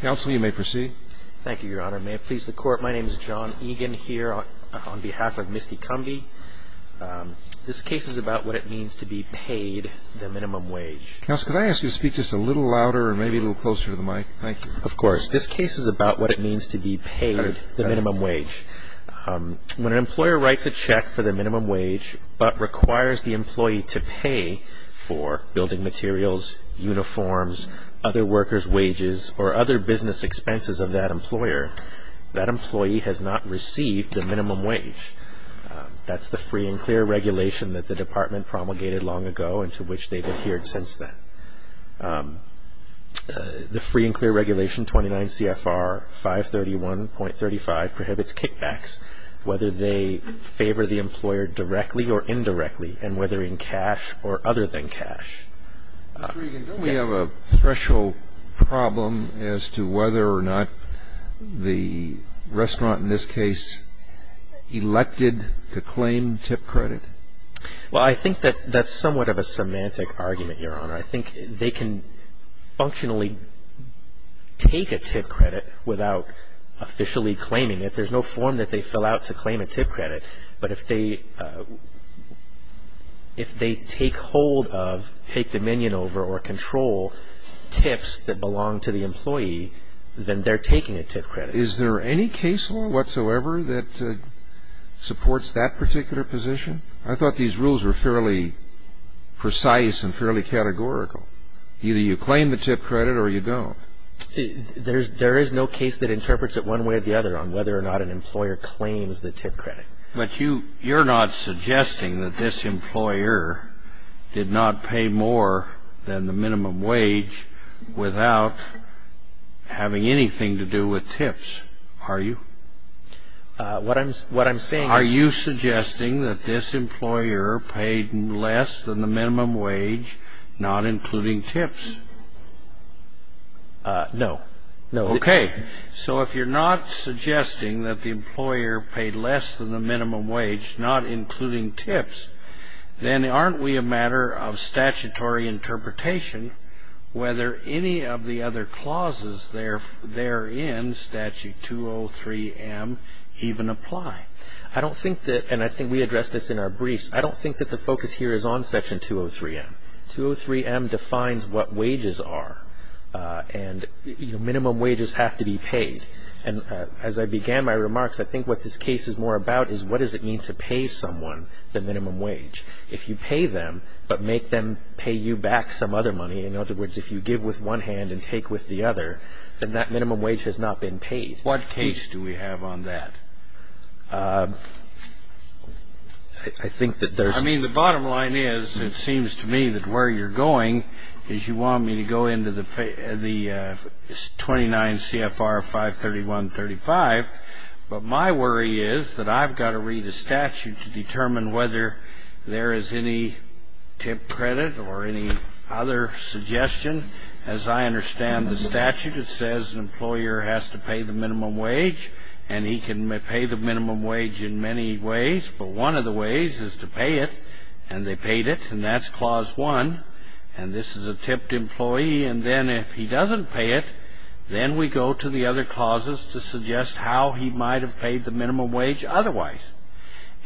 Counsel, you may proceed. Thank you, Your Honor. May it please the Court, my name is John Egan here on behalf of Misty Cumbie. This case is about what it means to be paid the minimum wage. Counsel, could I ask you to speak just a little louder or maybe a little closer to the mic? Of course. This case is about what it means to be paid the minimum wage. When an employer writes a check for the minimum wage but requires the employee to pay for other business expenses of that employer, that employee has not received the minimum wage. That's the free and clear regulation that the Department promulgated long ago and to which they've adhered since then. The free and clear regulation 29 CFR 531.35 prohibits kickbacks whether they favor the employer directly or indirectly and whether in cash or other than cash. Mr. Egan, don't we have a threshold problem as to whether or not the restaurant in this case elected to claim tip credit? Well, I think that that's somewhat of a semantic argument, Your Honor. I think they can functionally take a tip credit without officially claiming it. There's no form that they fill out to claim a tip credit. But if they take hold of, take dominion over or control tips that belong to the employee, then they're taking a tip credit. Is there any case law whatsoever that supports that particular position? I thought these rules were fairly precise and fairly categorical. Either you claim the tip credit or you don't. There is no case that interprets it one way or the other on whether or not an employer claims the tip credit. But you're not suggesting that this employer did not pay more than the minimum wage without having anything to do with tips, are you? What I'm saying is... Are you suggesting that this employer paid less than the minimum wage, not including tips? No. Okay. So if you're not suggesting that the employer paid less than the minimum wage, not including tips, then aren't we a matter of statutory interpretation whether any of the other clauses therein, Statute 203M, even apply? I don't think that, and I think we addressed this in our briefs, I don't think that the focus here is on Section 203M. 203M defines what wages are, and minimum wages have to be paid. And as I began my remarks, I think what this case is more about is what does it mean to pay someone the minimum wage. If you pay them, but make them pay you back some other money, in other words, if you give with one hand and take with the other, then that minimum wage has not been paid. What case do we have on that? I think that there's... I mean, the bottom line is, it seems to me that where you're going is you want me to go into the 29 CFR 531.35, but my worry is that I've got to read a statute to determine whether there is any tip credit or any other suggestion. As I understand the statute, it says an employer has to pay the minimum wage, and he can pay the minimum wage in many ways, but one of the ways is to pay it. And they paid it, and that's Clause 1. And this is a tipped employee, and then if he doesn't pay it, then we go to the other clauses to suggest how he might have paid the minimum wage otherwise.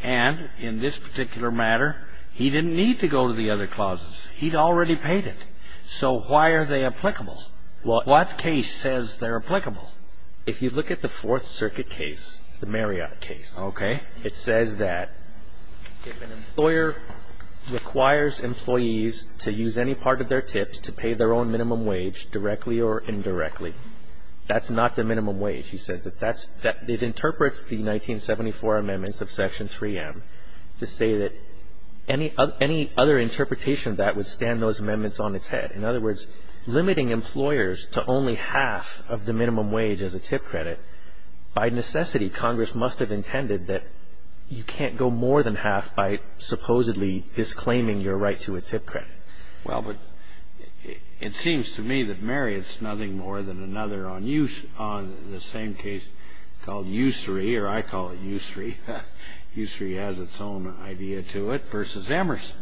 And in this particular matter, he didn't need to go to the other clauses. He'd already paid it. So why are they applicable? What case says they're applicable? If you look at the Fourth Circuit case, the Marriott case, it says that if an employer requires employees to use any part of their tips to pay their own minimum wage, directly or indirectly, that's not the minimum wage. He said that it interprets the 1974 amendments of Section 3M to say that any other interpretation of that would stand those amendments on its head. In other words, limiting employers to only half of the minimum wage as a tip credit, by necessity, Congress must have intended that you can't go more than half by supposedly disclaiming your right to a tip credit. Well, but it seems to me that Marriott's nothing more than another on the same case called Ussery, or I call it Ussery, Ussery has its own idea to it, versus Emerson.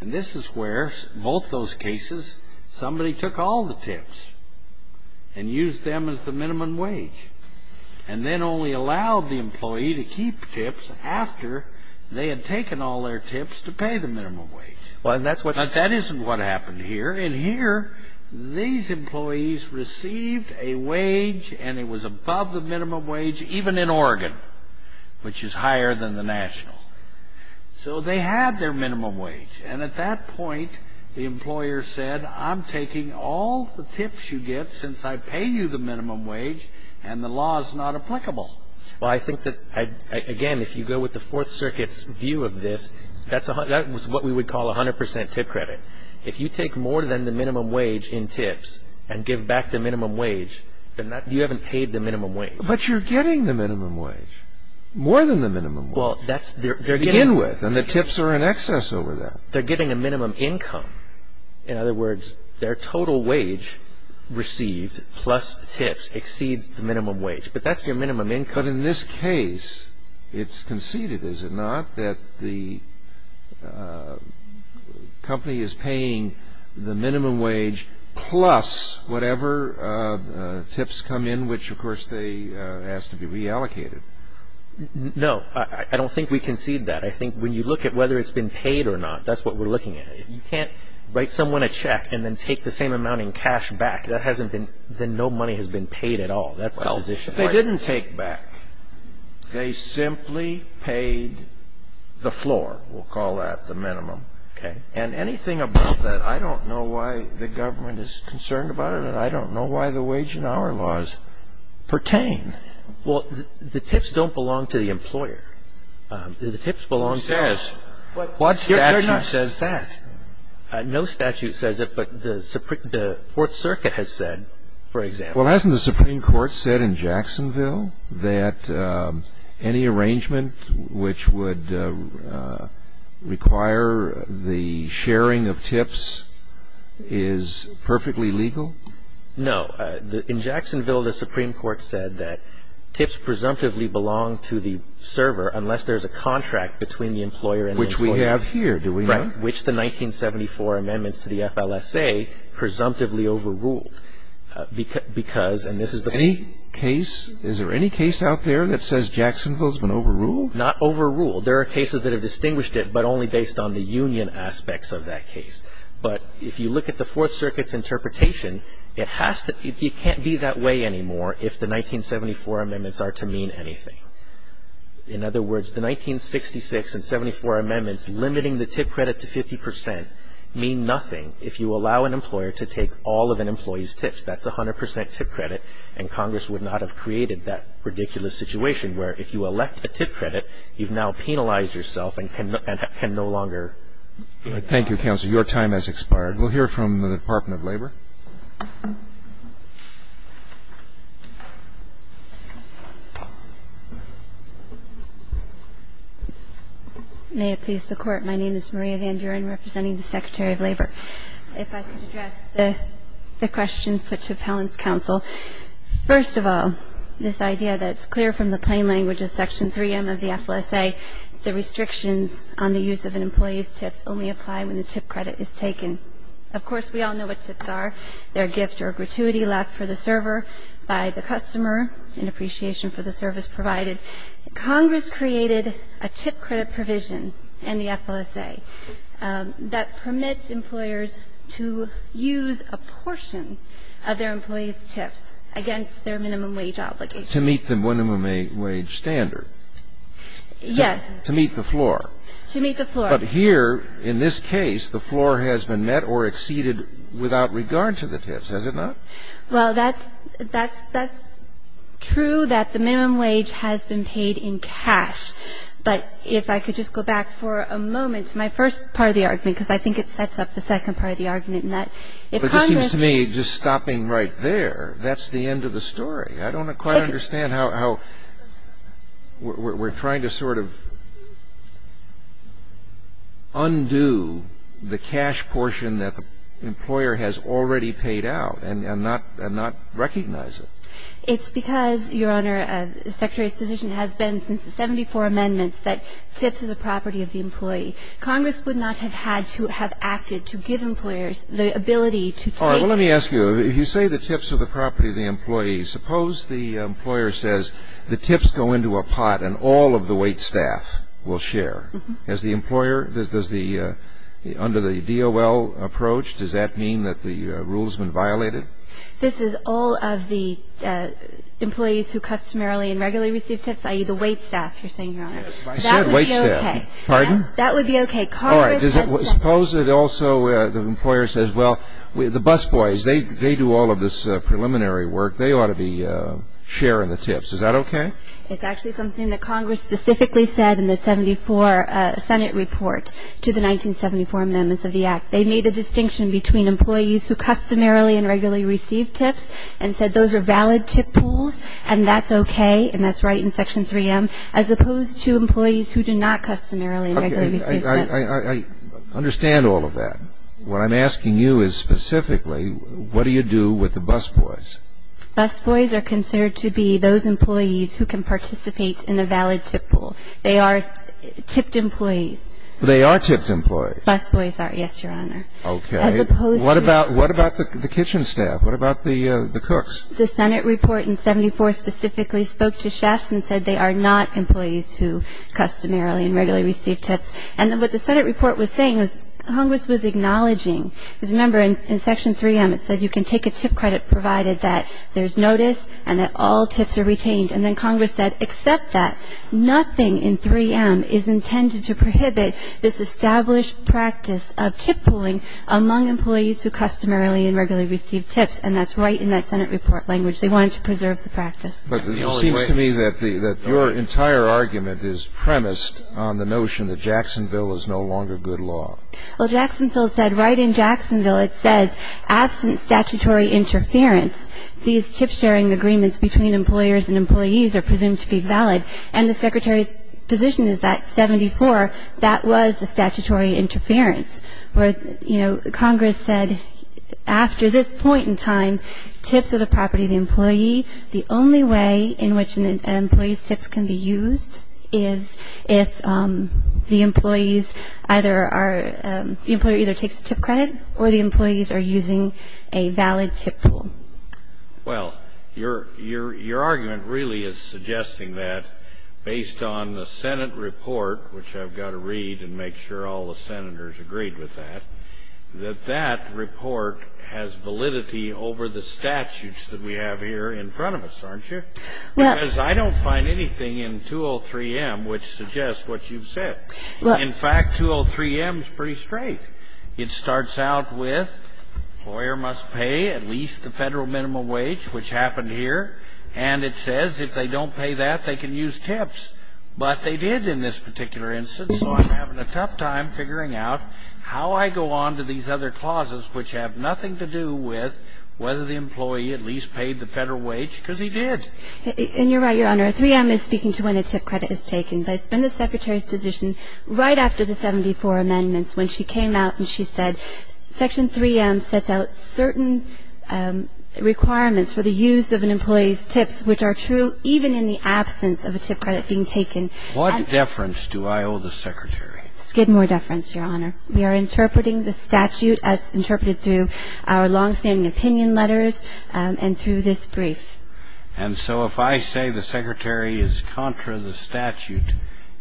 And this is where, both those cases, somebody took all the tips and used them as the minimum wage, and then only allowed the employee to keep tips after they had taken all their tips to pay the minimum wage. Well, and that's what... That isn't what happened here. In here, these employees received a wage and it was above the minimum wage, even in Oregon, which is higher than the national. So they had their minimum wage. And at that point, the employer said, I'm taking all the tips you get since I pay you the minimum wage, and the law is not applicable. Well, I think that, again, if you go with the Fourth Circuit's view of this, that's what we would call 100 percent tip credit. If you take more than the minimum wage in tips and give back the minimum wage, then you haven't paid the minimum wage. But you're getting the minimum wage, more than the minimum wage. Well, that's... To begin with, and the tips are in excess over that. They're getting a minimum income. In other words, their total wage received, plus tips, exceeds the minimum wage. But that's their minimum income. But in this case, it's conceded, is it not, that the company is paying the minimum wage plus whatever tips come in, which, of course, they ask to be reallocated. No. I don't think we concede that. I think when you look at whether it's been paid or not, that's what we're looking at. You can't write someone a check and then take the same amount in cash back. That hasn't been — then no money has been paid at all. That's the position. Well, they didn't take back. They simply paid the floor, we'll call that, the minimum. Okay. And anything about that, I don't know why the government is concerned about it, and I don't know why the wage and hour laws pertain. Well, the tips don't belong to the employer. The tips belong to — Who says? What statute says that? No statute says it, but the Fourth Circuit has said, for example — Well, hasn't the Supreme Court said in Jacksonville that any arrangement which would require the sharing of tips is perfectly legal? No. In Jacksonville, the Supreme Court said that tips presumptively belong to the server unless there's a contract between the employer and the employer. Which we have here, do we not? Right. Which the 1974 amendments to the FLSA presumptively overruled because — and this is the — Any case — is there any case out there that says Jacksonville has been overruled? Not overruled. There are cases that have distinguished it, but only based on the union aspects of that case. But if you look at the Fourth Circuit's interpretation, it has to — it can't be that way anymore if the 1974 amendments are to mean anything. In other words, the 1966 and 74 amendments limiting the tip credit to 50 percent mean nothing if you allow an employer to take all of an employee's tips. That's 100 percent tip credit, and Congress would not have created that ridiculous situation where if you elect a tip credit, you've now penalized yourself and can no longer — Thank you, Counselor. Your time has expired. We'll hear from the Department of Labor. May it please the Court, my name is Maria Van Buren, representing the Secretary of Labor. If I could address the questions put to Appellant's Counsel. First of all, this idea that it's clear from the plain language of Section 3M of the is taken. Of course, we all know what tips are, they're a gift or a gratuity left for the server by the customer in appreciation for the service provided. Congress created a tip credit provision in the FLSA that permits employers to use a portion of their employees' tips against their minimum wage obligation. To meet the minimum wage standard. Yes. To meet the floor. To meet the floor. But here, in this case, the floor has been met or exceeded without regard to the tips, has it not? Well, that's — that's true that the minimum wage has been paid in cash. But if I could just go back for a moment to my first part of the argument, because I think it sets up the second part of the argument, and that if Congress — But it seems to me, just stopping right there, that's the end of the story. I don't quite understand how — how — we're trying to sort of — undo the cash portion that the employer has already paid out and not — and not recognize it. It's because, Your Honor, the Secretary's position has been since the 74 amendments that tips are the property of the employee. Congress would not have had to — have acted to give employers the ability to take — All right, well, let me ask you, if you say the tips are the property of the employee, suppose the employer says the tips go into a pot and all of the waitstaff, will share. Mm-hmm. Does the employer — does the — under the DOL approach, does that mean that the rule's been violated? This is all of the employees who customarily and regularly receive tips, i.e., the waitstaff, you're saying, Your Honor. I said waitstaff. Pardon? That would be okay. All right, does it — suppose it also — the employer says, well, the busboys, they — they do all of this preliminary work. They ought to be sharing the tips. Is that okay? It's actually something that Congress specifically said in the 74 Senate report to the 1974 amendments of the Act. They made a distinction between employees who customarily and regularly receive tips and said those are valid tip pools and that's okay, and that's right in Section 3M, as opposed to employees who do not customarily and regularly receive tips. Okay, I understand all of that. What I'm asking you is specifically, what do you do with the busboys? Busboys are considered to be those employees who can participate in a valid tip pool. They are tipped employees. They are tipped employees? Busboys are, yes, Your Honor. Okay. As opposed to — What about — what about the kitchen staff? What about the — the cooks? The Senate report in 74 specifically spoke to chefs and said they are not employees who customarily and regularly receive tips. And what the Senate report was saying was Congress was acknowledging — because there's notice and that all tips are retained. And then Congress said, except that, nothing in 3M is intended to prohibit this established practice of tip pooling among employees who customarily and regularly receive tips. And that's right in that Senate report language. They wanted to preserve the practice. But the only way — It seems to me that the — that your entire argument is premised on the notion that Jacksonville is no longer good law. Well, Jacksonville said — right in Jacksonville, it says, absent statutory interference, these tip-sharing agreements between employers and employees are presumed to be valid. And the Secretary's position is that, 74, that was a statutory interference. But, you know, Congress said, after this point in time, tips are the property of the employee. The only way in which an employee's tips can be used is if the employees either are — are not satisfied with the fact that they're not using a valid tip pool. Well, your — your argument really is suggesting that, based on the Senate report, which I've got to read and make sure all the Senators agreed with that, that that report has validity over the statutes that we have here in front of us, aren't you? Well — Because I don't find anything in 203M which suggests what you've said. Well — In fact, 203M is pretty straight. It starts out with, employer must pay at least the federal minimum wage, which happened here. And it says, if they don't pay that, they can use tips. But they did in this particular instance, so I'm having a tough time figuring out how I go on to these other clauses which have nothing to do with whether the employee at least paid the federal wage, because he did. And you're right, Your Honor. 3M is speaking to when a tip credit is taken. But it's been the Secretary's position right after the 74 amendments, when she came out and she said, Section 3M sets out certain requirements for the use of an employee's tips, which are true even in the absence of a tip credit being taken. What deference do I owe the Secretary? Skidmore deference, Your Honor. We are interpreting the statute as interpreted through our longstanding opinion letters and through this brief. And so if I say the Secretary is contra the statute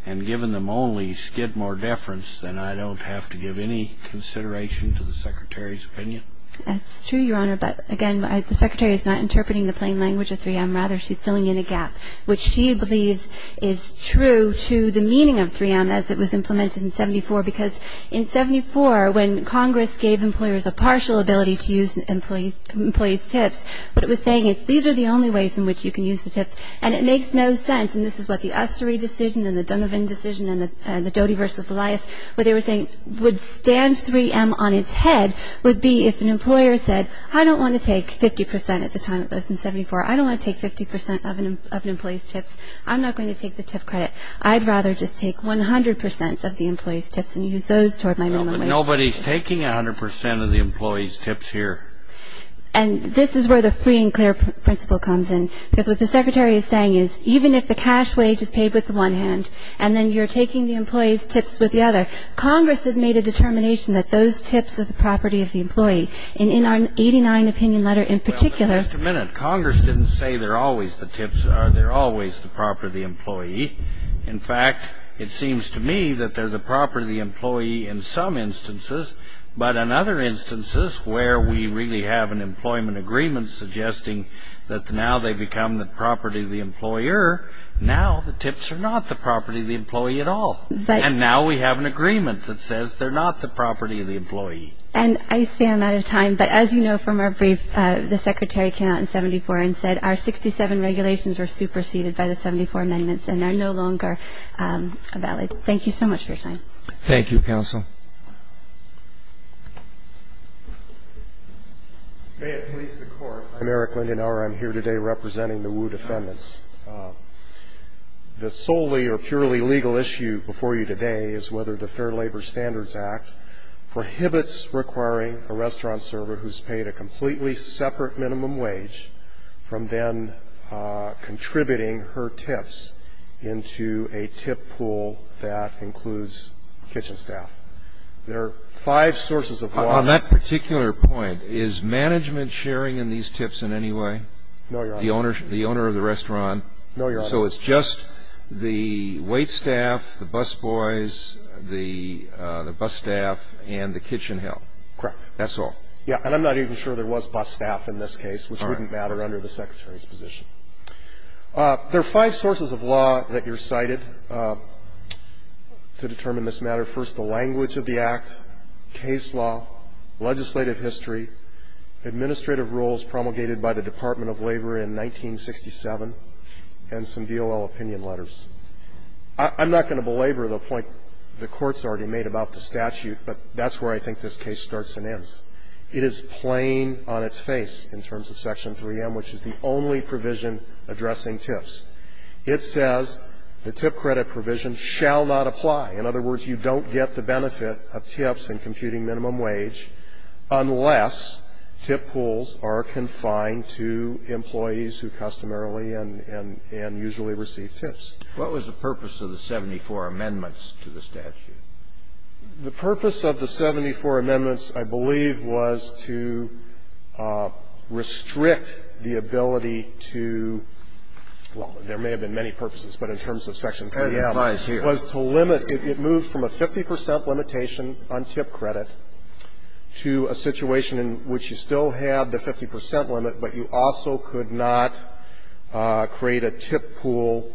and given them only Skidmore deference, then I don't have to give any consideration to the Secretary's opinion? That's true, Your Honor. But again, the Secretary is not interpreting the plain language of 3M. Rather, she's filling in a gap, which she believes is true to the meaning of 3M as it was implemented in 74. Because in 74, when Congress gave employers a partial ability to use employees' tips, what it was saying is, these are the only ways in which you can use the tips. And it makes no sense. And this is what the Ussery decision and the Dunnevin decision and the Doty v. Elias, what they were saying would stand 3M on its head would be if an employer said, I don't want to take 50% at the time it was in 74. I don't want to take 50% of an employee's tips. I'm not going to take the tip credit. I'd rather just take 100% of the employee's tips and use those toward my minimum wage. Nobody's taking 100% of the employee's tips here. And this is where the free and clear principle comes in. Because what the Secretary is saying is, even if the cash wage is paid with the one hand, and then you're taking the employee's tips with the other, Congress has made a determination that those tips are the property of the employee. And in our 89 opinion letter in particular — Well, just a minute. Congress didn't say they're always the tips. They're always the property of the employee. In fact, it seems to me that they're the property of the employee in some instances, but in other instances where we really have an employment agreement suggesting that now they become the property of the employer, now the tips are not the property of the employee at all. And now we have an agreement that says they're not the property of the employee. And I stand out of time, but as you know from our brief, the Secretary came out in 74 and said, our 67 regulations were superseded by the 74 amendments and are no longer valid. Thank you so much for your time. Thank you, Counsel. May it please the Court. I'm Eric Lindenauer. I'm here today representing the Wu defendants. The solely or purely legal issue before you today is whether the Fair Labor Standards Act prohibits requiring a restaurant server who's paid a completely separate minimum wage from then contributing her tips into a tip pool that includes kitchen staff. There are five sources of law. On that particular point, is management sharing in these tips in any way? No, Your Honor. The owner of the restaurant? No, Your Honor. So it's just the wait staff, the bus boys, the bus staff, and the kitchen help? Correct. That's all? Yeah. And I'm not even sure there was bus staff in this case, which wouldn't matter under the Secretary's position. There are five sources of law that you're cited to determine this matter. First, the language of the act, case law, legislative history, administrative rules promulgated by the Department of Labor in 1967, and some DOL opinion letters. I'm not going to belabor the point the Court's already made about the statute, but that's where I think this case starts and ends. It is plain on its face in terms of Section 3M, which is the only provision addressing tips. It says the tip credit provision shall not apply. In other words, you don't get the benefit of tips in computing minimum wage unless tip pools are confined to employees who customarily and usually receive tips. What was the purpose of the 74 amendments to the statute? The purpose of the 74 amendments, I believe, was to restrict the ability to – well, there may have been many purposes, but in terms of Section 3M, was to limit it to the ability of employees who customarily receive tips to be able to get a tip on a minimum wage. And it moved from a 50 percent limitation on tip credit to a situation in which you still had the 50 percent limit, but you also could not create a tip pool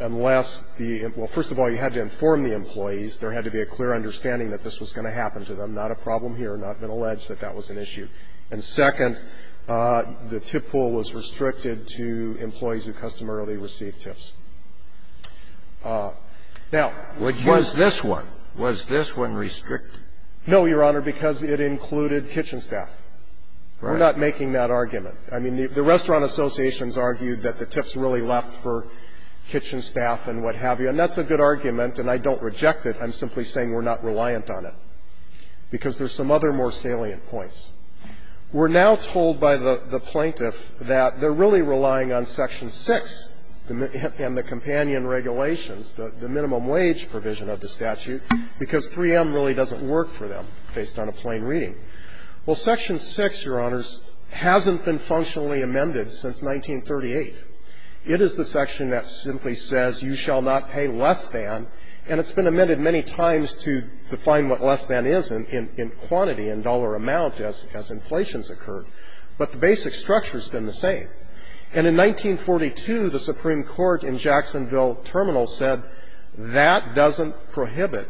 unless the – well, first of all, you had to inform the employees, there had to be a clear understanding that this was going to happen to them, not a problem here, and I've been alleged that that was an issue. And second, the tip pool was restricted to employees who customarily receive tips. Now, would you ask me to go back to Section 3M and say, well, we're not going to do because there's some other more salient points. We're now told by the plaintiff that they're really relying on Section 6 and the companion regulations, the minimum wage provision of the statute, because 3M really doesn't work for them based on a plain reading. Well, Section 6, Your Honors, hasn't been functionally amended since 1938. It is the section that simply says you shall not pay less than, and it's been amended many times to define what less than is in quantity, in dollar amount, as inflations occurred, but the basic structure's been the same. And in 1942, the Supreme Court in Jacksonville Terminal said that doesn't prohibit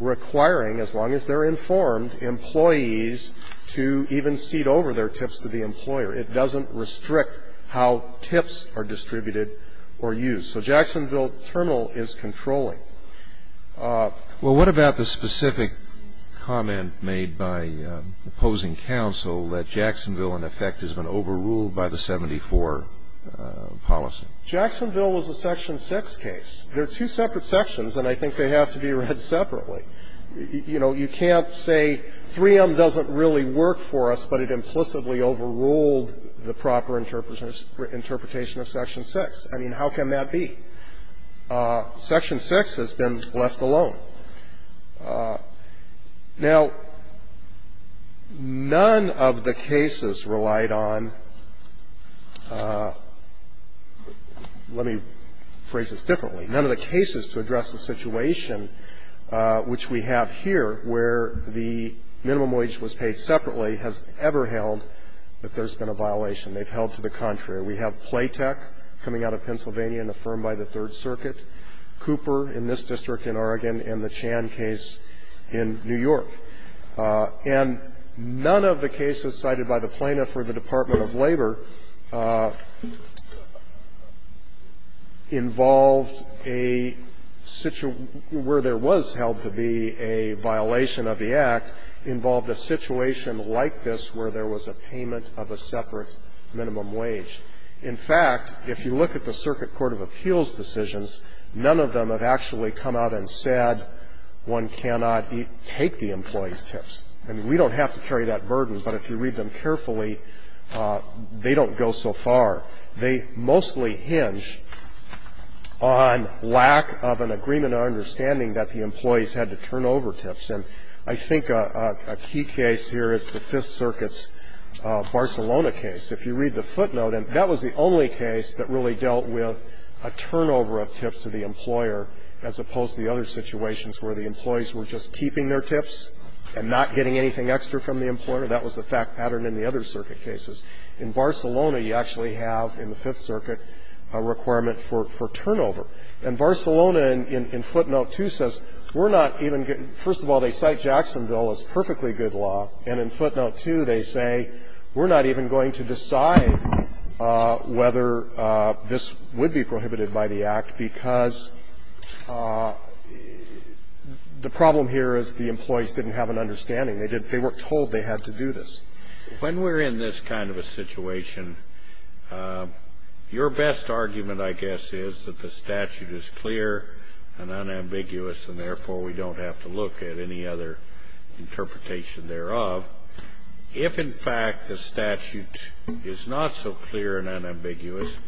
requiring, as long as they're informed, employees to even cede over their tips to the employer. It doesn't restrict how tips are distributed or used. So Jacksonville Terminal is controlling. Well, what about the specific comment made by opposing counsel that Jacksonville in effect has been overruled by the 74 policy? Jacksonville was a Section 6 case. They're two separate sections, and I think they have to be read separately. You know, you can't say 3M doesn't really work for us, but it implicitly overruled the proper interpretation of Section 6. I mean, how can that be? Section 6 has been left alone. Now, none of the cases relied on the cases to address the situation which we have here, where the minimum wage was paid separately, has ever held that there's been a violation. They've held to the contrary. We have Playtech coming out of Pennsylvania and affirmed by the Third Circuit, Cooper in this district in Oregon, and the Chan case in New York. And none of the cases cited by the Plaintiff or the Department of Labor involved a situation where there was held to be a violation of the Act, involved a situation like this where there was a payment of a separate minimum wage. In fact, if you look at the Circuit Court of Appeals decisions, none of them have actually come out and said one cannot take the employee's tips. I mean, we don't have to carry that burden, but if you read them carefully, they don't go so far. They mostly hinge on lack of an agreement or understanding that the employees had to turn over tips. And I think a key case here is the Fifth Circuit's Barcelona case. If you read the footnote, and that was the only case that really dealt with a turnover of tips to the employer, as opposed to the other situations where the employees were just keeping their tips and not getting anything extra from the employer. That was the fact pattern in the other circuit cases. In Barcelona, you actually have in the Fifth Circuit a requirement for turnover. And Barcelona, in footnote 2, says we're not even going to – first of all, they cite Jacksonville as perfectly good law, and in footnote 2 they say we're not even going to decide whether this would be prohibited by the Act because the problem here is the employees didn't have an understanding. They didn't – they weren't told they had to do this. When we're in this kind of a situation, your best argument, I guess, is that the statute is clear and unambiguous, and therefore we don't have to look at any other interpretation thereof. If, in fact, the statute is not so clear and unambiguous,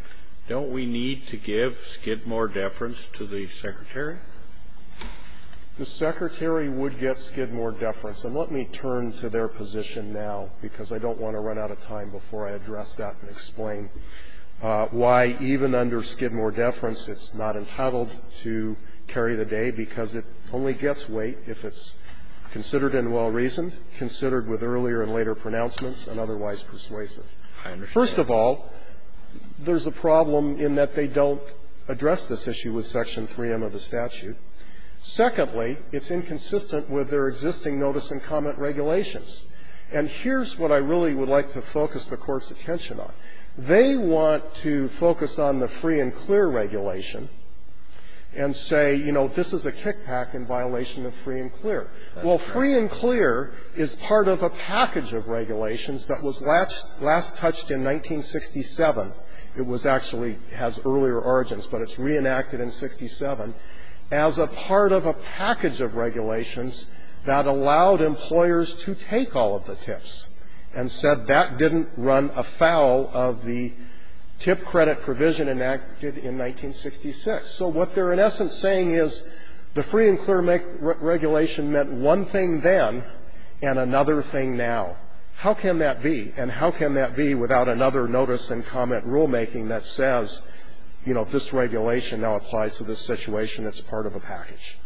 don't we need to give skidmore deference to the Secretary? The Secretary would get skidmore deference. And let me turn to their position now, because I don't want to run out of time before I address that and explain why even under skidmore deference it's not entitled to carry the day, because it only gets weight if it's considered and well-reasoned, considered with earlier and later pronouncements, and otherwise persuasive. First of all, there's a problem in that they don't address this issue with section 3M of the statute. Secondly, it's inconsistent with their existing notice and comment regulations. And here's what I really would like to focus the Court's attention on. They want to focus on the free and clear regulation and say, you know, this is a kickback in violation of free and clear. Well, free and clear is part of a package of regulations that was last touched in 1967. It was actually has earlier origins, but it's reenacted in 67 as a part of a package of regulations that allowed employers to take all of the tips, and said that didn't run afoul of the tip credit provision enacted in 1966. So what they're in essence saying is the free and clear regulation meant one thing then and another thing now. How can that be? And how can that be without another notice and comment rulemaking that says, you know, if this regulation now applies to this situation, it's part of a package?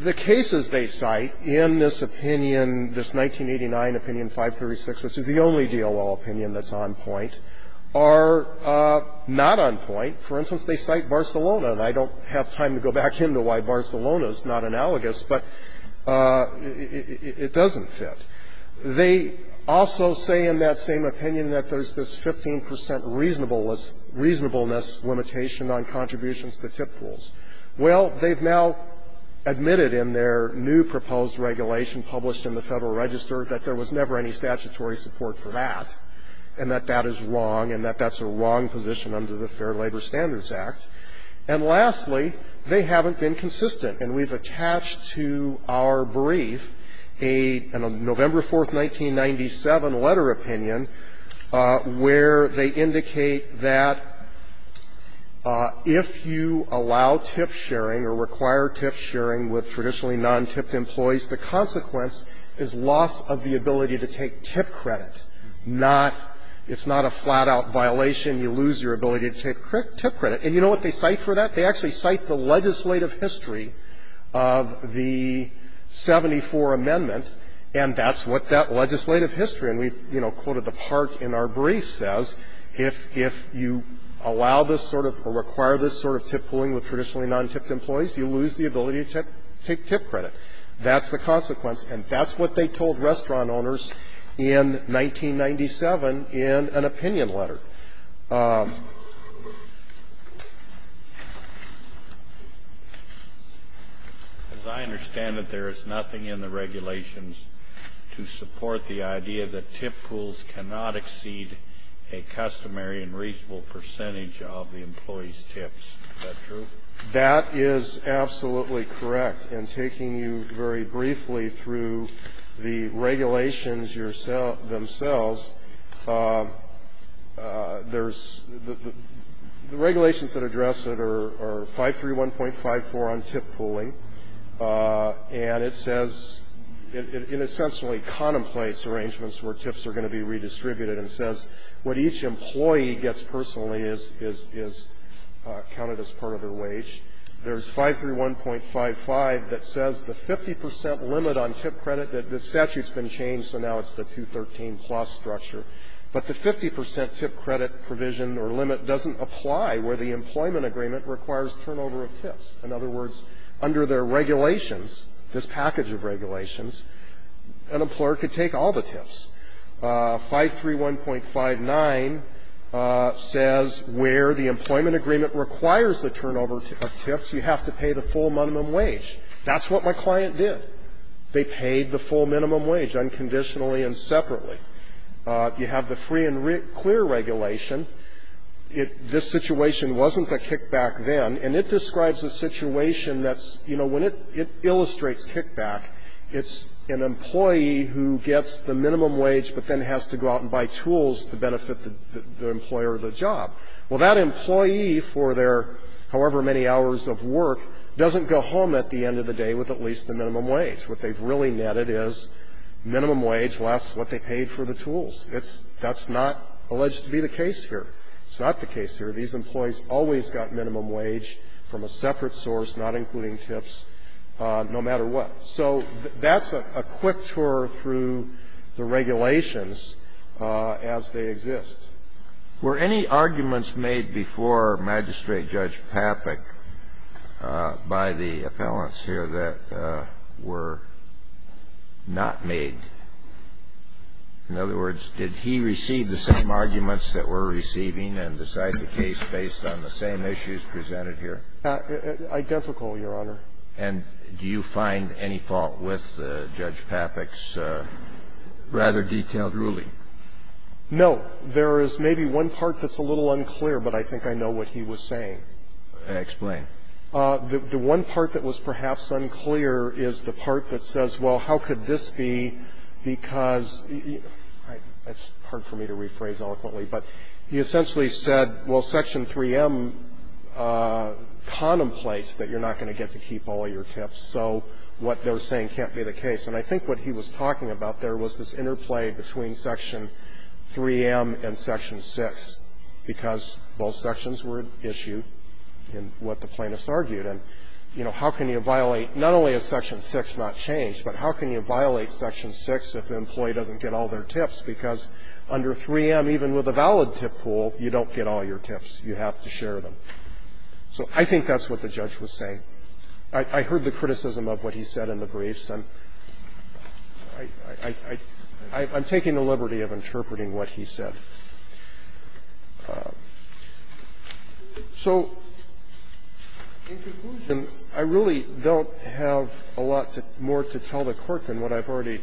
The cases they cite in this opinion, this 1989 opinion 536, which is the only DOL opinion that's on point, are not on point. For instance, they cite Barcelona, and I don't have time to go back into why Barcelona is not analogous, but it doesn't fit. They also say in that same opinion that there's this 15 percent reasonableness limitation on contributions to tip pools. Well, they've now admitted in their new proposed regulation published in the Federal Register that there was never any statutory support for that, and that that is wrong, and that that's a wrong position under the Fair Labor Standards Act. And lastly, they haven't been consistent. And we've attached to our brief a November 4, 1997, letter opinion where they indicate that if you allow tip sharing or require tip sharing with traditionally non-tipped employees, the consequence is loss of the ability to take tip credit, not – it's not a flat-out violation. You lose your ability to take tip credit. And you know what they cite for that? They actually cite the legislative history of the 74 Amendment, and that's what that legislative history – and we've, you know, quoted the part in our brief – says if you allow this sort of – or require this sort of tip pooling with traditionally non-tipped employees, you lose the ability to take tip credit. That's the consequence. And that's what they told restaurant owners in 1997 in an opinion letter. As I understand it, there is nothing in the regulations to support the idea that tip pools cannot exceed a customary and reasonable percentage of the employee's tips. Is that true? That is absolutely correct. And taking you very briefly through the regulations themselves, there's – the regulations that address it are 531.54 on tip pooling. And it says – it essentially contemplates arrangements where tips are going to be redistributed and says what each employee gets personally is counted as part of their wage. There's 531.55 that says the 50 percent limit on tip credit – the statute's been changed, so now it's the 213-plus structure – but the 50 percent tip credit provision or limit doesn't apply where the employment agreement requires turnover of tips. In other words, under their regulations, this package of regulations, an employer could take all the tips. 531.59 says where the employment agreement requires the turnover of tips, you have to pay the full minimum wage. That's what my client did. They paid the full minimum wage unconditionally and separately. You have the free and clear regulation. This situation wasn't a kickback then, and it describes a situation that's – you know, when it illustrates kickback, it's an employee who gets the minimum wage but then has to go out and buy tools to benefit the employer or the job. Well, that employee, for their however many hours of work, doesn't go home at the end of the day with at least the minimum wage. What they've really netted is minimum wage less what they paid for the tools. It's – that's not alleged to be the case here. It's not the case here. These employees always got minimum wage from a separate source, not including tips, no matter what. So that's a quick tour through the regulations as they exist. Were any arguments made before Magistrate Judge Papik by the appellants here that were not made? In other words, did he receive the same arguments that we're receiving and decide the case based on the same issues presented here? Identical, Your Honor. And do you find any fault with Judge Papik's rather detailed ruling? No. There is maybe one part that's a little unclear, but I think I know what he was saying. Explain. The one part that was perhaps unclear is the part that says, well, how could this be, because – it's hard for me to rephrase eloquently, but he essentially said, well, Section 3M contemplates that you're not going to get to keep all your tips, so what they're saying can't be the case. And I think what he was talking about there was this interplay between Section 3M and Section 6, because both sections were issued in what the plaintiffs argued. And, you know, how can you violate – not only is Section 6 not changed, but how can you violate Section 6 if the employee doesn't get all their tips, because under 3M, even with a valid tip pool, you don't get all your tips. You have to share them. So I think that's what the judge was saying. I heard the criticism of what he said in the briefs, and I'm taking the liberty of interpreting what he said. So in conclusion, I really don't have a lot more to tell the Court than what I've already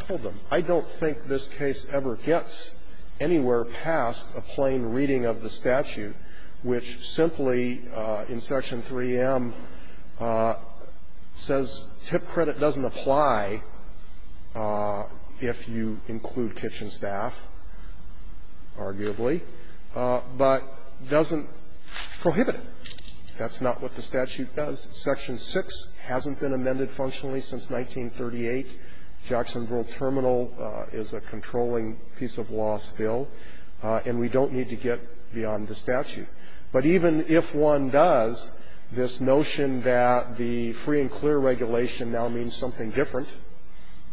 told them. I don't think this case ever gets anywhere past a plain reading of the statute, which simply in Section 3M says tip credit doesn't apply if you include kitchen staff, arguably, but doesn't prohibit it. That's not what the statute does. Section 6 hasn't been amended functionally since 1938. Jacksonville Terminal is a controlling piece of law still, and we don't need to get beyond the statute. But even if one does, this notion that the free and clear regulation now means something different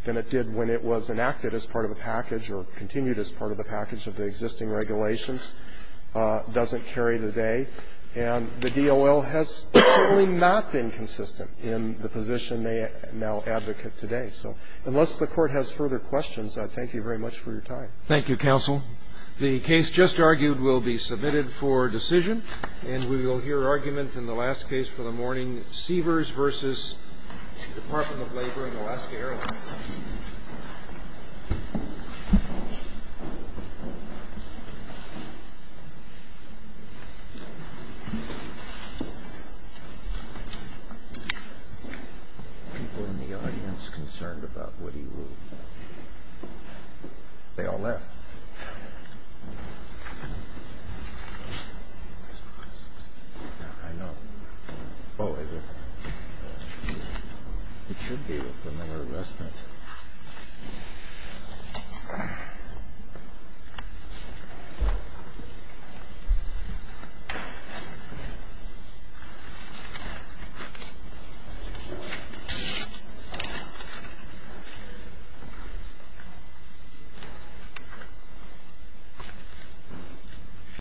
than it did when it was enacted as part of a package or continued as part of a package of the existing regulations doesn't carry the day, and the DOL has certainly not been consistent in the position they now advocate today. So unless the Court has further questions, I thank you very much for your time. Roberts. Thank you, counsel. The case just argued will be submitted for decision, and we will hear argument in the last case for the morning, Seavers v. Department of Labor and Alaska Airlines.